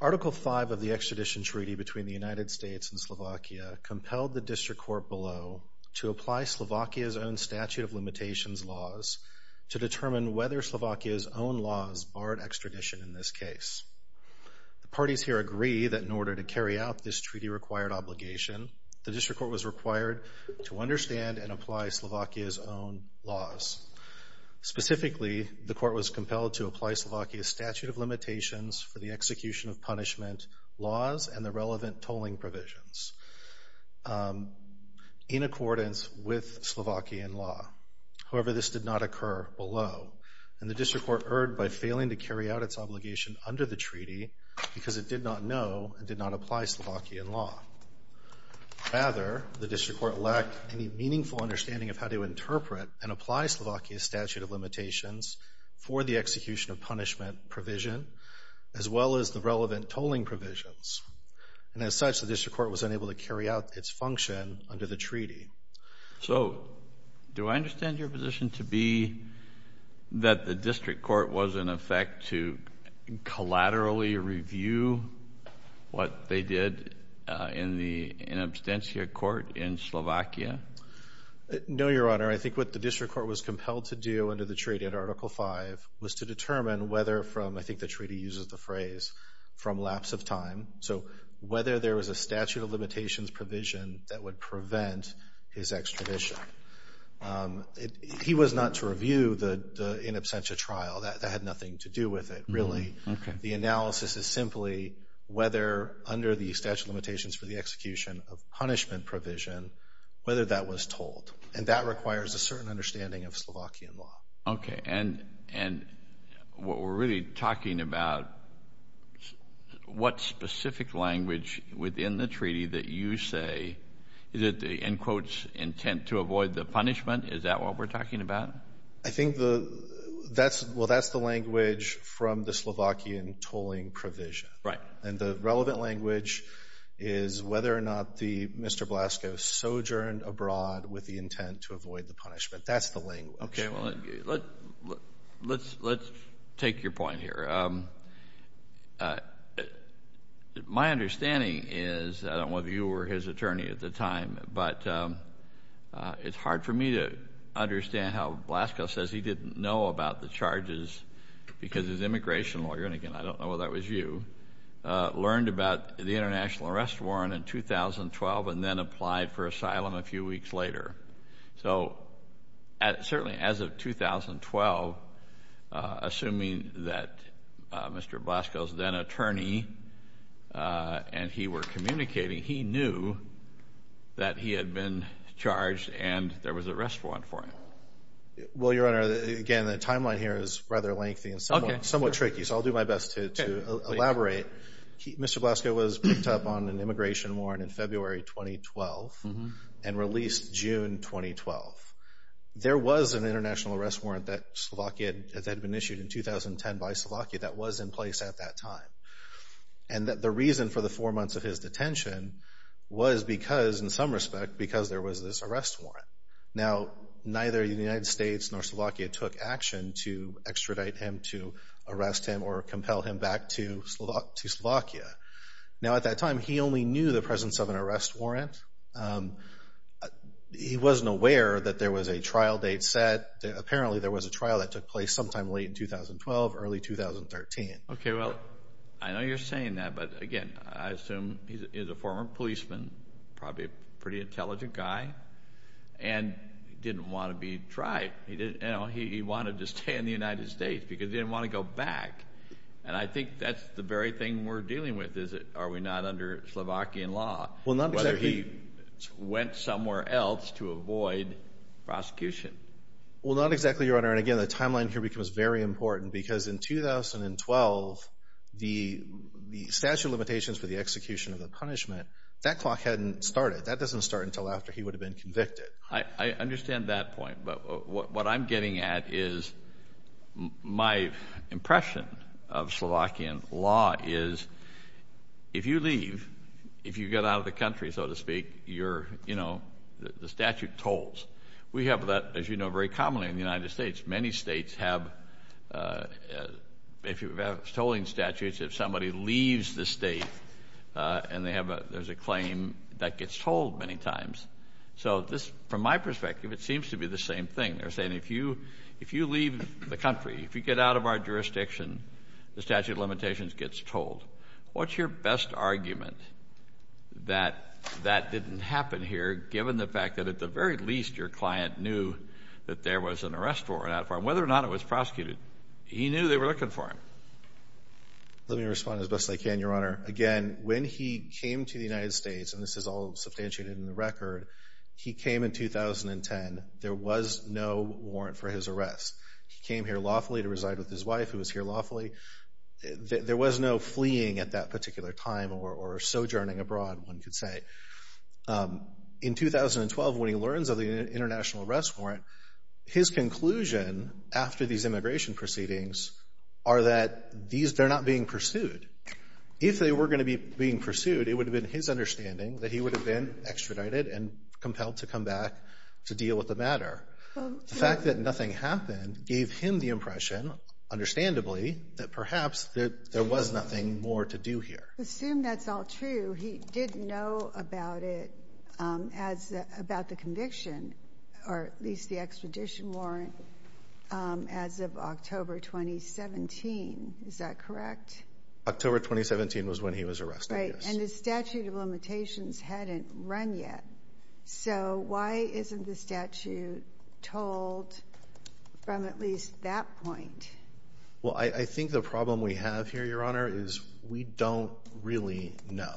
Article V of the Extradition Treaty between the United States and Slovakia compelled the District Court below to apply Slovakia's own statute of limitations laws to determine whether in order to carry out this treaty-required obligation, the District Court was required to understand and apply Slovakia's own laws. Specifically, the Court was compelled to apply Slovakia's statute of limitations for the execution of punishment laws and the relevant tolling provisions in accordance with Slovakian law. However, this did not occur below, and the District Court erred by failing to carry out its obligation under the treaty because it did not know and did not apply Slovakian law. Rather, the District Court lacked any meaningful understanding of how to interpret and apply Slovakia's statute of limitations for the execution of punishment provision, as well as the relevant tolling provisions. And as such, the District Court was unable to carry out its function under the treaty. So do I understand your position to be that the District Court was, in effect, to collaterally review what they did in the in absentia court in Slovakia? No, Your Honor. I think what the District Court was compelled to do under the treaty under Article V was to determine whether from, I think the treaty uses the phrase, from lapse of time. So whether there was a statute of limitations provision that would prevent his extradition. He was not to review the in absentia trial. That had nothing to do with it, really. The analysis is simply whether under the statute of limitations for the execution of punishment provision, whether that was told. And that requires a certain understanding of Slovakian law. Okay. And what we're really talking about, what specific language within the treaty that you say, is it the end quotes intent to avoid the punishment? Is that what we're talking about? I think, well, that's the language from the Slovakian tolling provision. Right. And the relevant language is whether or not Mr. Blasko sojourned abroad with the intent to avoid the punishment. That's the language. Okay. Well, let's take your point here. My understanding is, I don't know whether you were his attorney at the time, but it's hard for me to understand how Blasko says he didn't know about the charges because his immigration lawyer, and again, I don't know whether that was you, learned about the international arrest warrant in 2012 and then applied for asylum a few weeks later. So certainly as of 2012, assuming that Mr. Blasko's then attorney and he were communicating, he knew that he had been charged and there was an arrest warrant for him. Well, Your Honor, again, the timeline here is rather lengthy and somewhat tricky, so I'll do my best to elaborate. Mr. Blasko was picked up on an immigration warrant in February 2012 and released June 2012. There was an international arrest warrant that had been and the reason for the four months of his detention was because, in some respect, because there was this arrest warrant. Now, neither the United States nor Slovakia took action to extradite him, to arrest him, or compel him back to Slovakia. Now, at that time, he only knew the presence of an arrest warrant. He wasn't aware that there was a trial date set. Apparently, there was a trial that took place sometime late in 2012, early 2013. Okay. Well, I know you're saying that, but again, I assume he's a former policeman, probably a pretty intelligent guy, and he didn't want to be tried. He wanted to stay in the United States because he didn't want to go back. And I think that's the very thing we're dealing with, is that are we not under Slovakian law, whether he went somewhere else to avoid prosecution? Well, not exactly, Your Honor. And again, the timeline here becomes very important because in 2012, the statute of limitations for the execution of the punishment, that clock hadn't started. That doesn't start until after he would have been convicted. I understand that point, but what I'm getting at is my impression of Slovakian law is, if you leave, if you get out of the country, so to speak, the statute tolls. We have that, as you know, very commonly in the if you have tolling statutes, if somebody leaves the state and they have a, there's a claim that gets tolled many times. So this, from my perspective, it seems to be the same thing. They're saying if you leave the country, if you get out of our jurisdiction, the statute of limitations gets tolled. What's your best argument that that didn't happen here, given the fact that at the very least your client knew that there was an arrest warrant out for him, whether or not it was prosecuted. He knew they were looking for him. Let me respond as best I can, Your Honor. Again, when he came to the United States, and this is all substantiated in the record, he came in 2010. There was no warrant for his arrest. He came here lawfully to reside with his wife, who was here lawfully. There was no fleeing at that particular time or sojourning abroad, one could say. In 2012, when he learns of the international arrest warrant, his conclusion after these immigration proceedings are that these, they're not being pursued. If they were going to be being pursued, it would have been his understanding that he would have been extradited and compelled to come back to deal with the matter. The fact that nothing happened gave him the impression, understandably, that perhaps that there was nothing more to do here. Assume that's all true. He did know about it as, about the conviction, or at least the extradition warrant, as of October 2017. Is that correct? October 2017 was when he was arrested, yes. Right. And the statute of limitations hadn't run yet. So why isn't the statute told from at least that point? Well, I think the problem we have here, Your Honor, is we don't really know.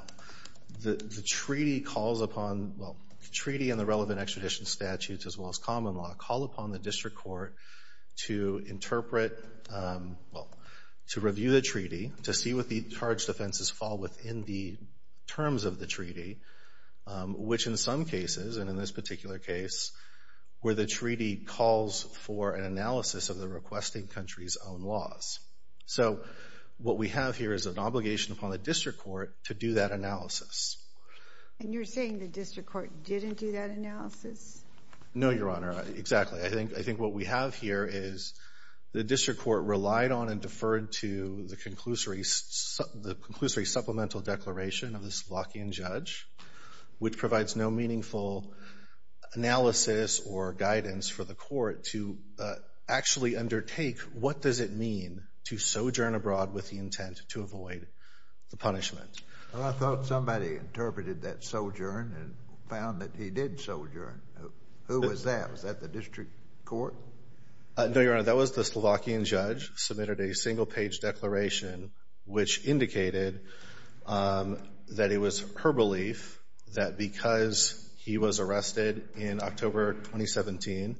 The treaty calls upon, well, the treaty and the relevant extradition statutes, as well as common law, call upon the district court to interpret, well, to review the treaty, to see what the charge defenses fall within the terms of the treaty, which in some cases, and in this particular case, where the treaty's own laws. So what we have here is an obligation upon the district court to do that analysis. And you're saying the district court didn't do that analysis? No, Your Honor. Exactly. I think what we have here is the district court relied on and deferred to the conclusory supplemental declaration of this Lockean judge, which provides no meaningful analysis or guidance for the court to actually undertake what does it mean to sojourn abroad with the intent to avoid the punishment. Well, I thought somebody interpreted that sojourn and found that he did sojourn. Who was that? Was that the district court? No, Your Honor. That was the Slovakian judge, submitted a single-page declaration, which indicated that it was her belief that because he was arrested in October 2017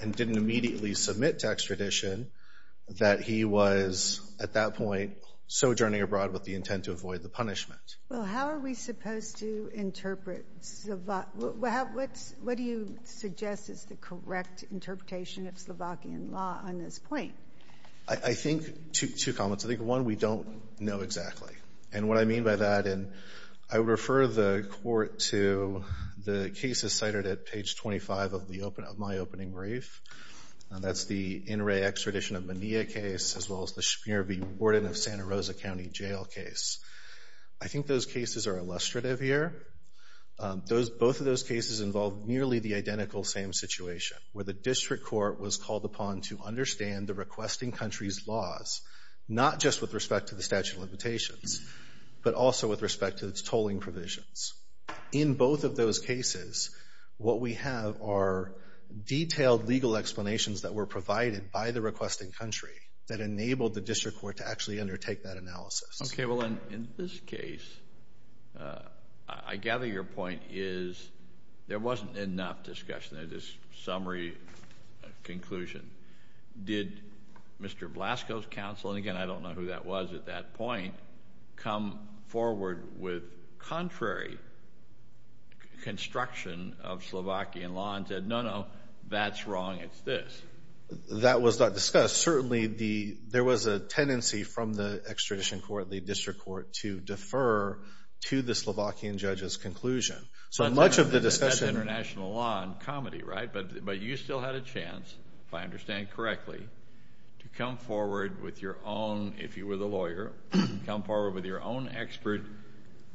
and didn't immediately submit to extradition, that he was, at that point, sojourning abroad with the intent to avoid the punishment. Well, how are we supposed to interpret? What do you suggest is the correct interpretation of Slovakian law on this point? I think two comments. I think, one, we don't know exactly. And what I mean by that, and I refer the court to the cases cited at page 25 of my opening brief, and that's the In Re Extradition of Mania case, as well as the Schmier v. Warden of Santa Rosa County Jail case. I think those cases are illustrative here. Both of those cases involve nearly the identical same situation, where the district court was called upon to understand the requesting country's laws, not just with respect to the statute of limitations, but also with respect to its tolling provisions. In both of those cases, what we have are detailed legal explanations that were provided by the requesting country that enabled the district court to actually undertake that analysis. Okay. Well, in this case, I gather your point is there wasn't enough discussion. In this summary conclusion, did Mr. Blasco's counsel, and again, I don't know who that was at that point, come forward with contrary construction of Slovakian law and said, no, no, that's wrong, it's this? That was not discussed. Certainly, there was a tendency from the extradition court, the district court, to defer to the Slovakian judge's conclusion. So much of the discussion- That's international law and comedy, right? But you still had a chance, if I understand correctly, to come forward with your own, if you were the lawyer, come forward with your own expert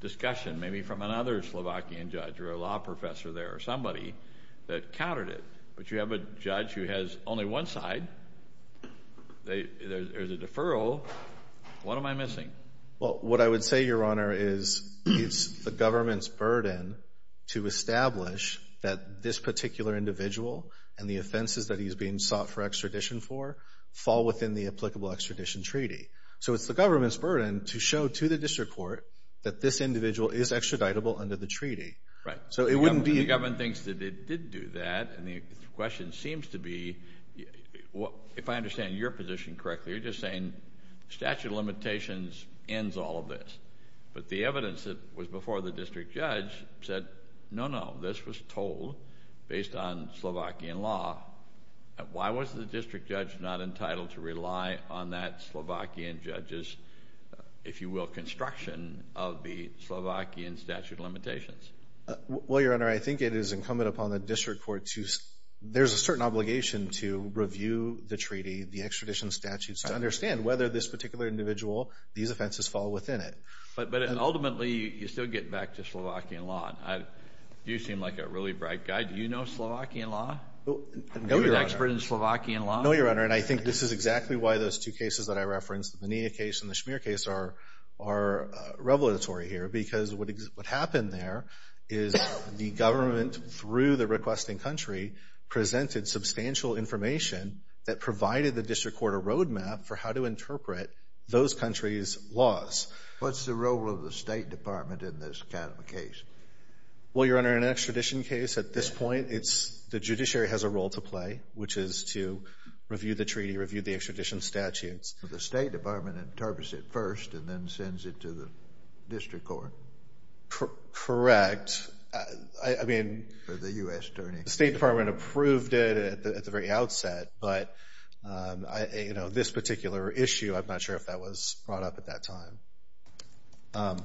discussion, maybe from another Slovakian judge or a law professor there or somebody that countered it. But you have a judge who has only one side. There's a deferral. What am I missing? Well, what I would say, Your Honor, is it's the government's burden to establish that this particular individual and the offenses that he's being sought for extradition for fall within the applicable extradition treaty. So it's the government's burden to show to the district court that this individual is extraditable under the treaty. Right. So it wouldn't be- The government thinks that it did do that, and the question seems to be, if I understand your position correctly, you're just saying statute of said, no, no, this was told based on Slovakian law. Why was the district judge not entitled to rely on that Slovakian judge's, if you will, construction of the Slovakian statute of limitations? Well, Your Honor, I think it is incumbent upon the district court to- There's a certain obligation to review the treaty, the extradition statute, to understand whether this particular individual, these offenses fall within it. But ultimately, you still get back to Slovakian law. You seem like a really bright guy. Do you know Slovakian law? No, Your Honor. Are you an expert in Slovakian law? No, Your Honor. And I think this is exactly why those two cases that I referenced, the Menina case and the Schmeer case, are revelatory here. Because what happened there is the government, through the requesting country, presented substantial information that provided the district court a roadmap for how to interpret those countries' laws. What's the role of the State Department in this kind of a case? Well, Your Honor, in an extradition case, at this point, the judiciary has a role to play, which is to review the treaty, review the extradition statutes. The State Department interprets it first and then sends it to the district court? Correct. I mean- For the U.S. Attorney. The State Department approved it at the very outset. But this particular issue, I'm not sure if that was brought up at that time.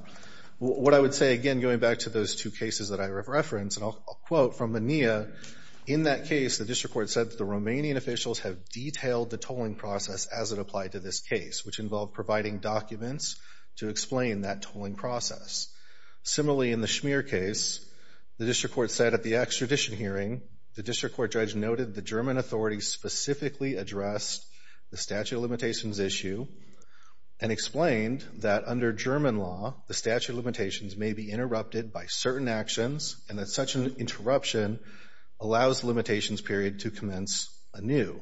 What I would say, again, going back to those two cases that I referenced, and I'll quote from Menina, in that case, the district court said that the Romanian officials have detailed the tolling process as it applied to this case, which involved providing documents to explain that tolling process. Similarly, in the Schmeer case, the district court said at the extradition hearing, the district court judge noted the German authorities specifically addressed the statute of limitations issue and explained that under German law, the statute of limitations may be interrupted by certain actions and that such an interruption allows the limitations period to commence anew.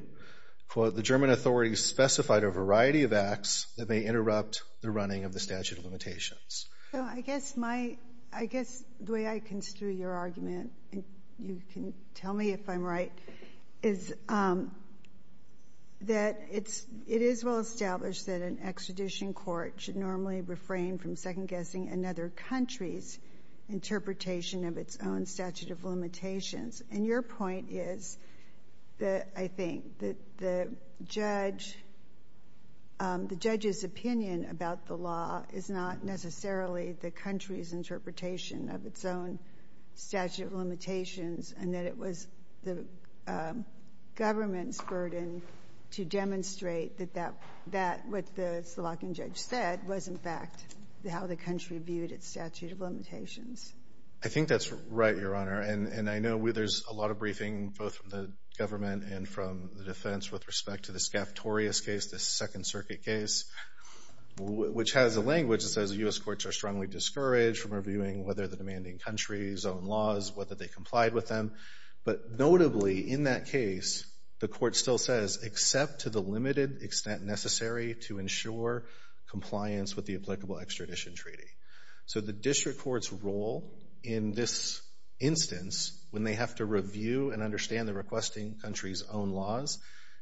Quote, the German authorities specified a variety of acts that may interrupt the running of the statute of limitations. So I guess my- I guess the way I construe your It is well established that an extradition court should normally refrain from second-guessing another country's interpretation of its own statute of limitations. And your point is that I think that the judge — the judge's opinion about the law is not necessarily the country's interpretation of its own statute of limitations and that it was the government's to demonstrate that that — that what the Solakian judge said was, in fact, how the country viewed its statute of limitations. I think that's right, Your Honor. And I know there's a lot of briefing both from the government and from the defense with respect to the Scaffetorius case, the Second Circuit case, which has a language that says the U.S. courts are strongly discouraged from reviewing whether the demanding countries own laws, whether they complied with them. But notably, in that case, the court still says, except to the limited extent necessary to ensure compliance with the applicable extradition treaty. So the district court's role in this instance, when they have to review and understand the requesting country's own laws,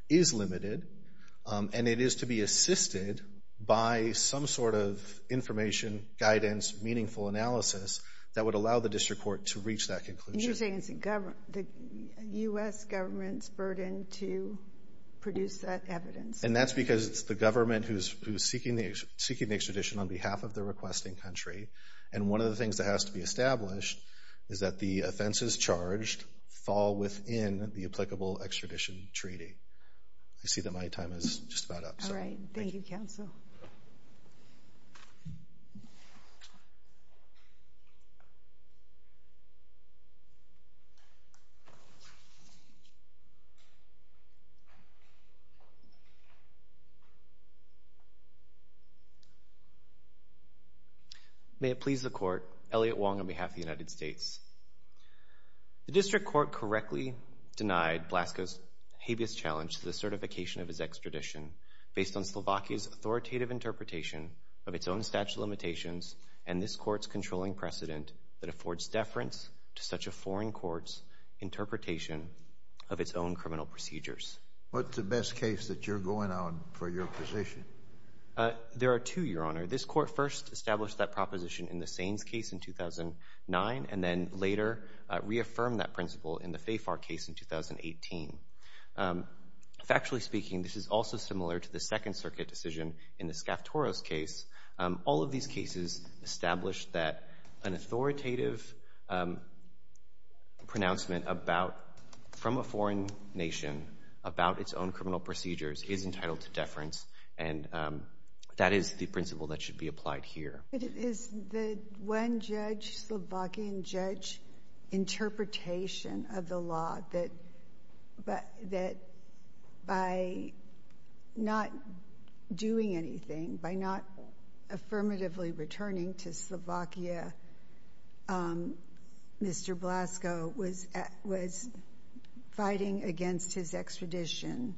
is limited. And it is to be assisted by some sort of information, guidance, meaningful analysis that would allow the district court to reach that conclusion. And you're saying it's the U.S. government's burden to produce that evidence. And that's because it's the government who's seeking the extradition on behalf of the requesting country. And one of the things that has to be established is that the offenses charged fall within the applicable extradition treaty. I see that my time is just about up. All right. Thank you, counsel. May it please the Court. Elliott Wong on behalf of the United States. The district court correctly denied Blasco's habeas challenge to the certification of his extradition based on Slovakia's authoritative interpretation of its own statute of limitations and this court's controlling precedent that affords deference to such a foreign court's interpretation of its own criminal procedures. What's the best case that you're going on for your position? There are two, Your Honor. This court first established that proposition in the Saines case in 2009 and then later reaffirmed that this is also similar to the Second Circuit decision in the Skaftoros case. All of these cases establish that an authoritative pronouncement from a foreign nation about its own criminal procedures is entitled to deference and that is the principle that should be applied here. Is the one Slovakian judge's interpretation of the law that by not doing anything, by not affirmatively returning to Slovakia, Mr. Blasco was fighting against his extradition?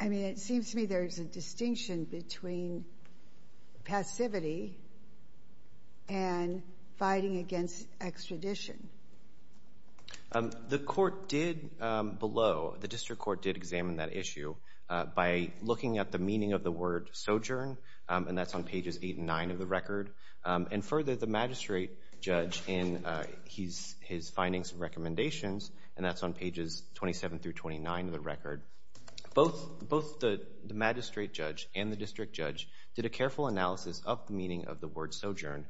I mean, it seems to me there's a distinction between passivity and fighting against extradition. The court did below, the district court did examine that issue by looking at the meaning of the word sojourn and that's on pages 8 and 9 of the record and further the magistrate judge in his findings and recommendations and that's on pages 27 through 29 of the record. Both the magistrate judge and the district judge did a careful analysis of the meaning of the word sojourn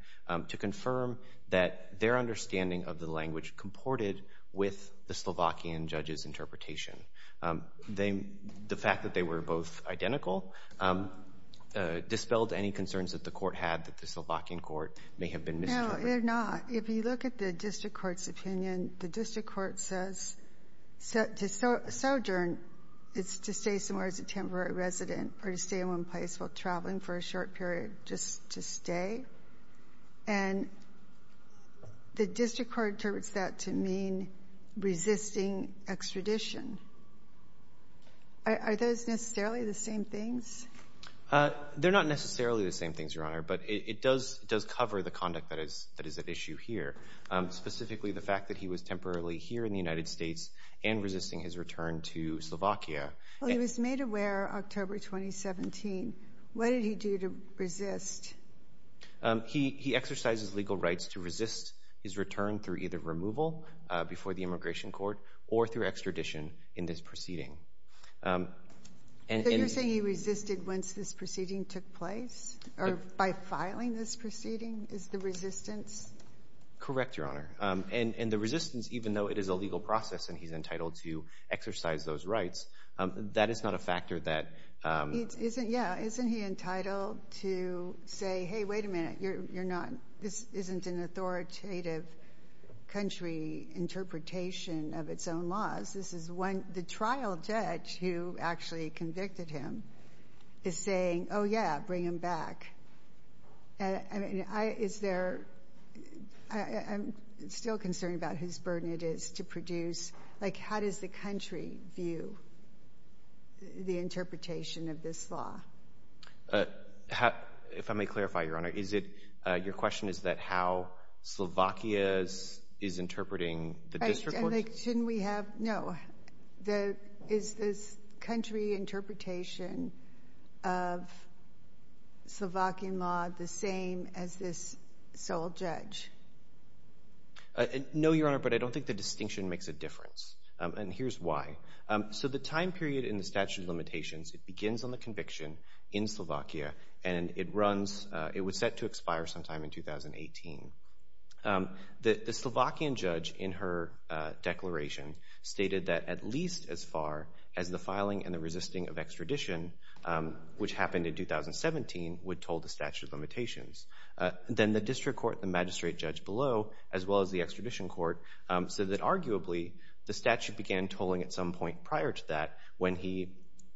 to confirm that their understanding of the language comported with the Slovakian judge's interpretation. The fact that they were both identical dispelled any concerns that the Slovakian court may have been misinterpreted. No, they're not. If you look at the district court's opinion, the district court says sojourn is to stay somewhere as a temporary resident or to stay in one place while traveling for a short period just to stay and the district court interprets that to mean resisting extradition. Are those necessarily the same things? They're not necessarily the same things, Your Honor, but it does cover the conduct that is at issue here. Specifically, the fact that he was temporarily here in the United States and resisting his return to Slovakia. Well, he was made aware October 2017. What did he do to resist? He exercises legal rights to resist his return through either removal before the immigration court or through extradition in this proceeding. So you're saying he resisted once this proceeding took place or by filing this proceeding is the resistance? Correct, Your Honor. And the resistance, even though it is a legal process and he's entitled to exercise those rights, that is not a factor that... Yeah, isn't he entitled to say, hey, wait a minute, you're not, this isn't an authoritative country interpretation of its own laws. This is one, the trial judge who actually convicted him is saying, oh yeah, bring him back. And I mean, is there, I'm still concerned about whose burden it is to produce, like how does the country view the interpretation of this law? If I may clarify, Your Honor, is it, your question is that how Slovakia is interpreting the district court? Shouldn't we have, no, is this country interpretation of Slovakian law the same as this sole judge? No, Your Honor, but I don't think the distinction makes a difference. And here's why. So the time period in the statute of limitations, it begins on the conviction in Slovakia and it runs, it was set to expire sometime in 2018. The Slovakian judge in her declaration stated that at least as far as the filing and the resisting of extradition, which happened in 2017, would toll the statute of limitations. Then the district court, the magistrate judge below, as well as the extradition court, said that arguably the statute began tolling at some point prior to that when he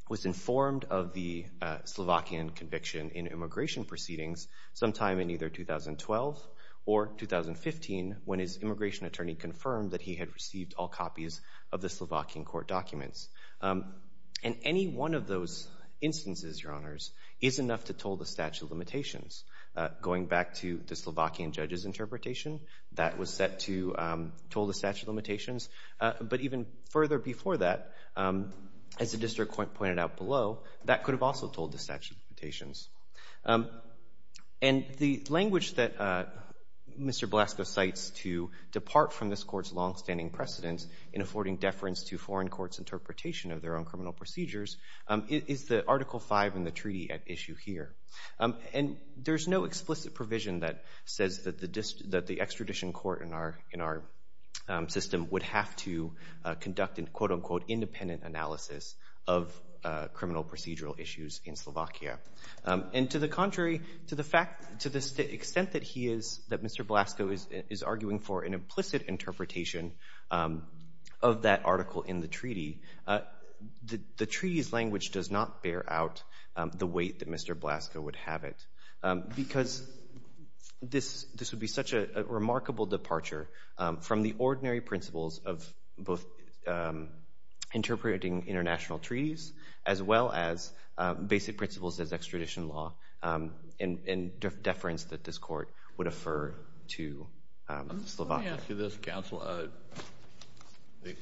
was informed of the Slovakian conviction in immigration proceedings sometime in either 2012 or 2015 when his immigration attorney confirmed that he had received all copies of the Slovakian court documents. And any one of those instances, Your Honors, is enough to toll the statute of limitations. Going back to the Slovakian judge's interpretation, that was set to toll the statute of limitations. But even further before that, as the district court pointed out below, that could have also tolled the statute of limitations. And the language that Mr. Belasco cites to depart from this court's long-standing precedence in affording deference to foreign courts' interpretation of their own criminal procedures is the Article V in the treaty at issue here. And there's no explicit provision that says that the extradition court in our system would have to conduct an, quote-unquote, independent analysis of criminal procedural issues in Slovakia. And to the contrary, to the extent that Mr. Belasco is arguing for an implicit interpretation of that article in the treaty, the treaty's language does not bear out the weight that Mr. Belasco would have it. Because this would be such a remarkable departure from the ordinary principles of both interpreting international treaties as well as basic principles as extradition law and deference that this court would affirm to Slovakia. Let me ask you this, Counsel.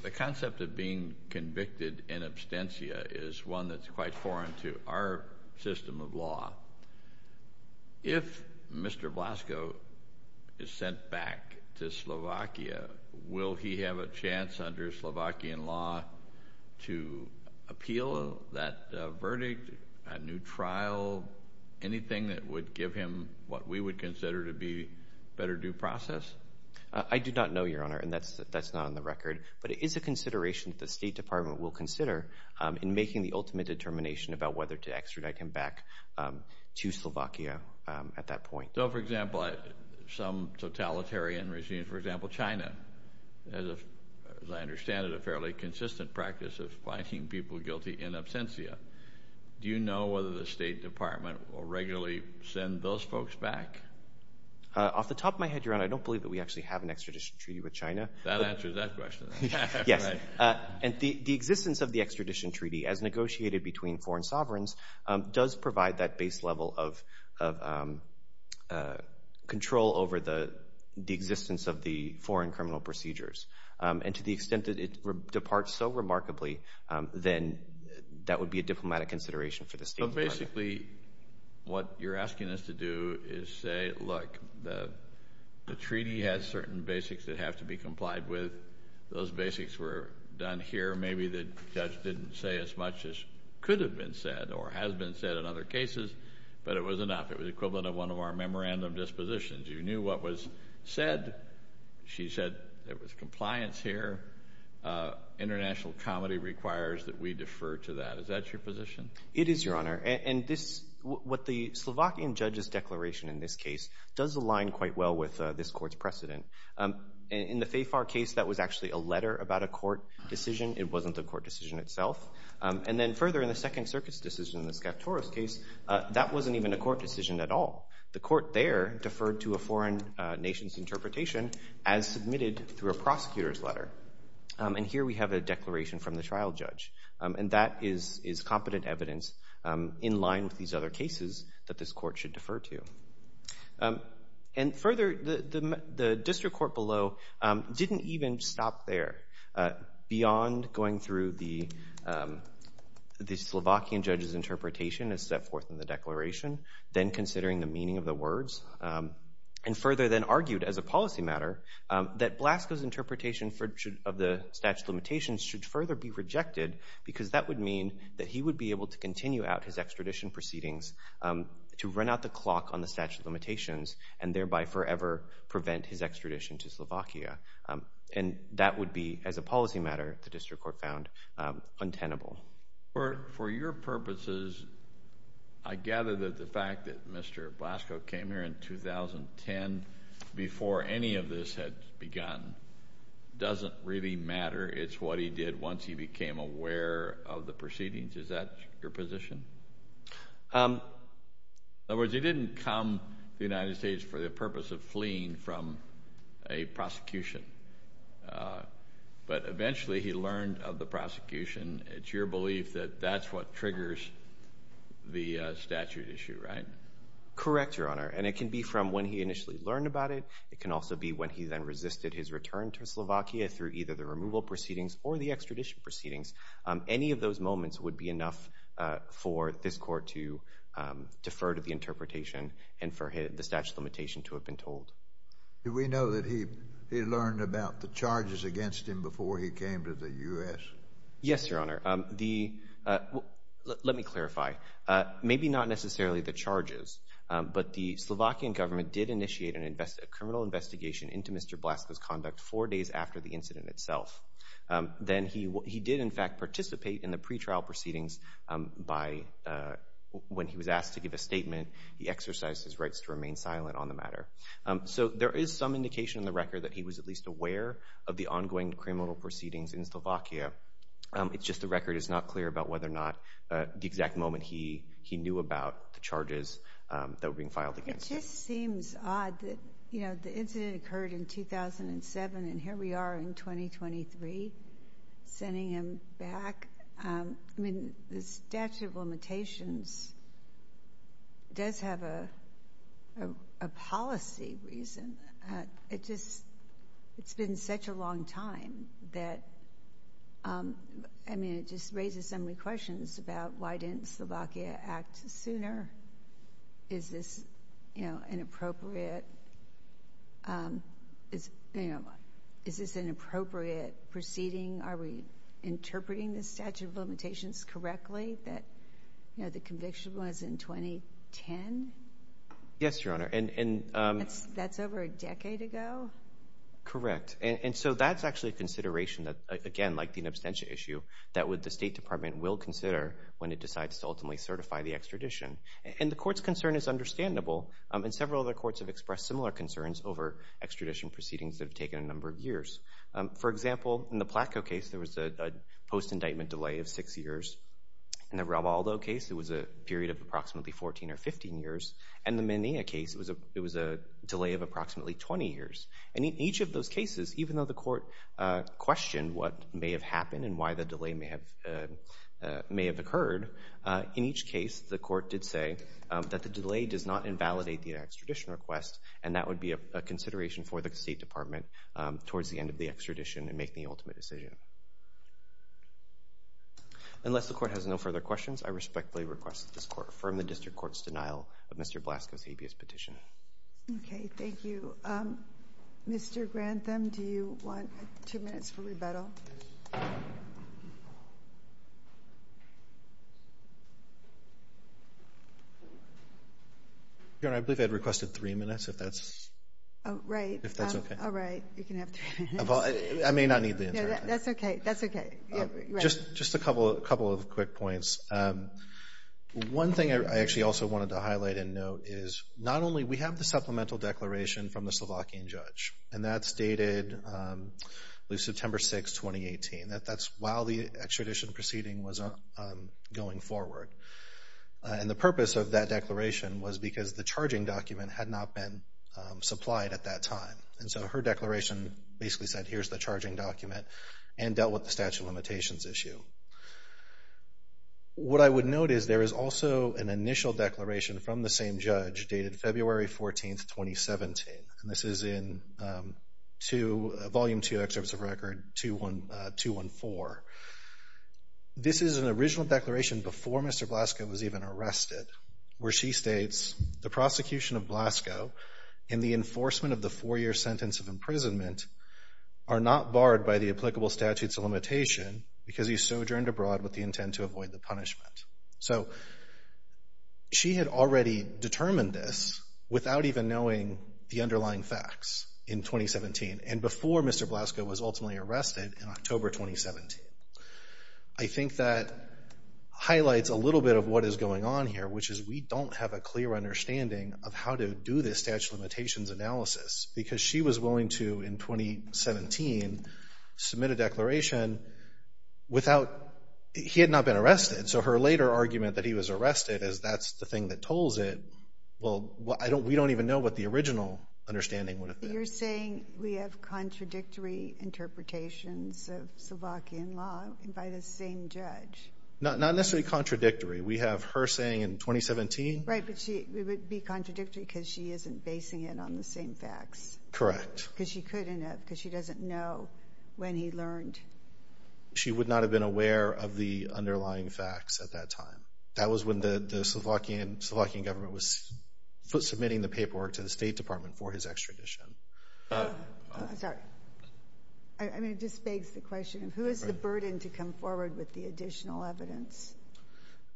The concept of being convicted in abstentia is one that's If Mr. Belasco is sent back to Slovakia, will he have a chance under Slovakian law to appeal that verdict, a new trial, anything that would give him what we would consider to be better due process? I do not know, Your Honor, and that's not on the record. But it is a consideration that the State Department will consider in making the ultimate determination about whether to extradite him back to Slovakia at that point. So, for example, some totalitarian regimes, for example, China, has, as I understand it, a fairly consistent practice of finding people guilty in abstentia. Do you know whether the State Department will regularly send those folks back? Off the top of my head, Your Honor, I don't believe that we actually have an extradition treaty with China. That answers that question. Yes. And the existence of the extradition treaty, as negotiated between foreign sovereigns, does provide that base level of control over the existence of the foreign criminal procedures. And to the extent that it departs so remarkably, then that would be a diplomatic consideration for the State Department. Basically, what you're asking us to do is say, look, the treaty has certain basics that have to be complied with. Those basics were done here. Maybe the judge didn't say as much as could have been said or has been said in other cases, but it was enough. It was equivalent of one of our memorandum dispositions. You knew what was said. She said there was compliance here. International comedy requires that we defer to that. Is that your position? It is, Your Honor. And this, what the Slovakian judge's declaration in this case, does align quite well with this court's precedent. In the Fayfar case, that was actually a letter about a court decision. It wasn't the court decision itself. And then further in the Second Circuit's decision in the Skavtoros case, that wasn't even a court decision at all. The court there deferred to a foreign nation's interpretation as submitted through a prosecutor's letter. And here we have a declaration from the trial judge. And that is competent evidence in line with these other cases that this court should defer to. And further, the district court below didn't even stop there. Beyond going through the Slovakian judge's interpretation as set forth in the declaration, then considering the meaning of the words, and further then argued as a policy matter that Blasco's interpretation of the statute of limitations should further be rejected because that would mean that he would be able to continue out his extradition proceedings to run out the clock on the statute of limitations and thereby forever prevent his extradition to Slovakia. And that would be, as a policy matter, the district court found untenable. For your purposes, I gather that the fact that Mr. Blasco came here in 2010 before any of this had begun doesn't really matter. It's what he did once he became aware of the proceedings. Is that your position? In other words, he didn't come to the United States for the purpose of fleeing from a prosecution. But eventually he learned of the prosecution. It's your belief that that's what triggers the statute issue, right? Correct, Your Honor. And it can be from when he initially learned about it. It can also be when he then resisted his return to Slovakia through either the removal proceedings or the extradition proceedings. Any of those moments would be enough for this court to defer to the interpretation and for the statute of limitation to have been told. Did we know that he learned about the charges against him before he came to the U.S.? Yes, Your Honor. Let me clarify. Maybe not necessarily the charges, but the Slovakian government did initiate a criminal investigation into Mr. Blasco's conduct four days after the incident itself. Then he did, in fact, participate in the pretrial proceedings by, when he was asked to give a statement, he exercised his rights to remain silent on the matter. So there is some indication in the record that he was at least aware of the ongoing criminal proceedings in Slovakia. It's just the record is not clear about whether or not the exact moment he knew about the charges that were being filed against him. It just seems odd that, you know, the incident occurred in 2007 and here we are in 2023, sending him back. I mean, the statute of limitations does have a policy reason. It just, it's been such a long time that, I mean, it just raises so many questions about why didn't Slovakia act sooner? Is this, you know, an appropriate, you know, is this an appropriate proceeding? Are we interpreting the statute of limitations correctly that, you know, the conviction was in 2010? Yes, Your Honor. And that's over a decade ago? Correct. And so that's actually a consideration that, again, like the abstention issue, that the State Department will consider when it decides to ultimately certify the extradition. And the Court's concern is understandable, and several other courts have expressed similar concerns over extradition proceedings that have taken a number of years. For example, in the Placco case, there was a post-indictment delay of six years. In the Ravaldo case, it was a period of approximately 14 or 15 years. And the Menea case, it was a delay of approximately 20 years. And in each of those cases, even though the Court questioned what may have happened and why the delay may have occurred, in each case, the Court did say that the delay does not invalidate the extradition request, and that would be a consideration for the State Department towards the end of the extradition and making the ultimate decision. Unless the Court has no further questions, I respectfully request that this Court affirm the District Court's denial of Mr. Blasco's habeas petition. Okay, thank you. Mr. Grantham, do you want two minutes for rebuttal? Your Honor, I believe I had requested three minutes, if that's... Oh, right. You can have three minutes. I may not need the entire time. That's okay, that's okay. Just a couple of quick points. One thing I actually also wanted to highlight and note is not only... We have the supplemental declaration from the Slovakian judge, and that's dated, I believe, September 6, 2018. That's while the extradition proceeding was going forward. And the purpose of that declaration was because the charging document had not been and so her declaration basically said, here's the charging document and dealt with the statute of limitations issue. What I would note is there is also an initial declaration from the same judge, dated February 14, 2017. And this is in Volume 2, Excerpts of Record 214. This is an original declaration before Mr. Blasco was even arrested, where she states, The prosecution of Blasco and the enforcement of the four-year sentence of imprisonment are not barred by the applicable statutes of limitation because he sojourned abroad with the intent to avoid the punishment. So she had already determined this without even knowing the underlying facts in 2017 and before Mr. Blasco was ultimately arrested in October 2017. I think that highlights a little bit of what is going on here, which is we don't have a clear understanding of how to do this statute of limitations analysis because she was willing to, in 2017, submit a declaration without... He had not been arrested. So her later argument that he was arrested is that's the thing that told it. Well, we don't even know what the original understanding would have been. You're saying we have contradictory interpretations of Slovakian law by the same judge? Not necessarily contradictory. We have her saying in 2017... Right, but it would be contradictory because she isn't basing it on the same facts. Correct. Because she couldn't have, because she doesn't know when he learned. She would not have been aware of the underlying facts at that time. That was when the Slovakian government was submitting the paperwork to the State Department for his extradition. Sorry. I mean, it just begs the question of who is the burden to come forward with the additional evidence?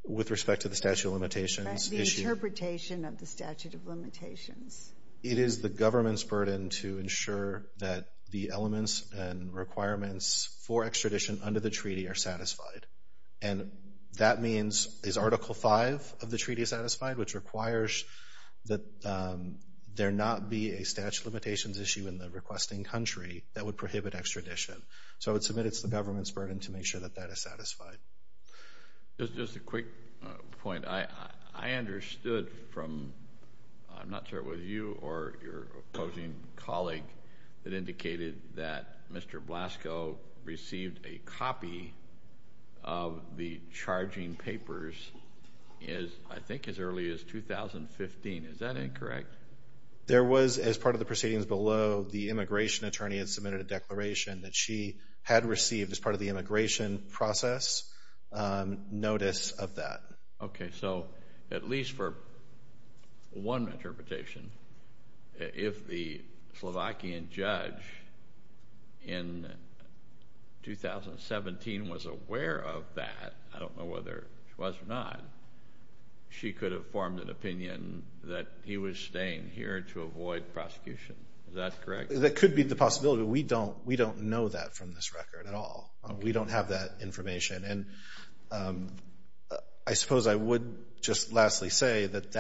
With respect to the statute of limitations issue? The interpretation of the statute of limitations. It is the government's burden to ensure that the elements and requirements for extradition under the treaty are satisfied. And that means, is Article 5 of the treaty satisfied? Which requires that there not be a statute of limitations issue in the requesting country that would prohibit extradition. So I would submit it's the government's burden to make sure that that is satisfied. Just a quick point. I understood from, I'm not sure it was you or your opposing colleague that indicated that Mr. Blasco received a copy of the charging papers as, I think, as early as 2015. Is that incorrect? There was, as part of the proceedings below, the immigration attorney had submitted a declaration that she had received as part of the immigration process. A notice of that. Okay, so at least for one interpretation, if the Slovakian judge in 2017 was aware of that, I don't know whether she was or not, she could have formed an opinion that he was staying here to avoid prosecution. Is that correct? That could be the possibility. We don't know that from this record at all. We don't have that information. And I suppose I would just lastly say that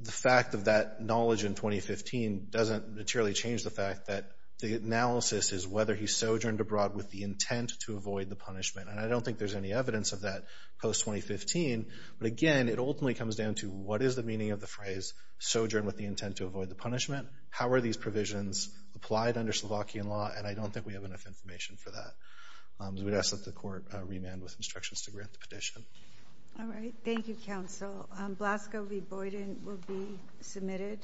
the fact of that knowledge in 2015 doesn't materially change the fact that the analysis is whether he sojourned abroad with the intent to avoid the punishment. And I don't think there's any evidence of that post-2015. But again, it ultimately comes down to what is the meaning of the phrase sojourn with the intent to avoid the punishment? How are these provisions applied under Slovakian law? And I don't think we have enough information for that. We would ask that the court remand with instructions to grant the petition. All right. Thank you, counsel. Blasco v. Boyden will be submitted.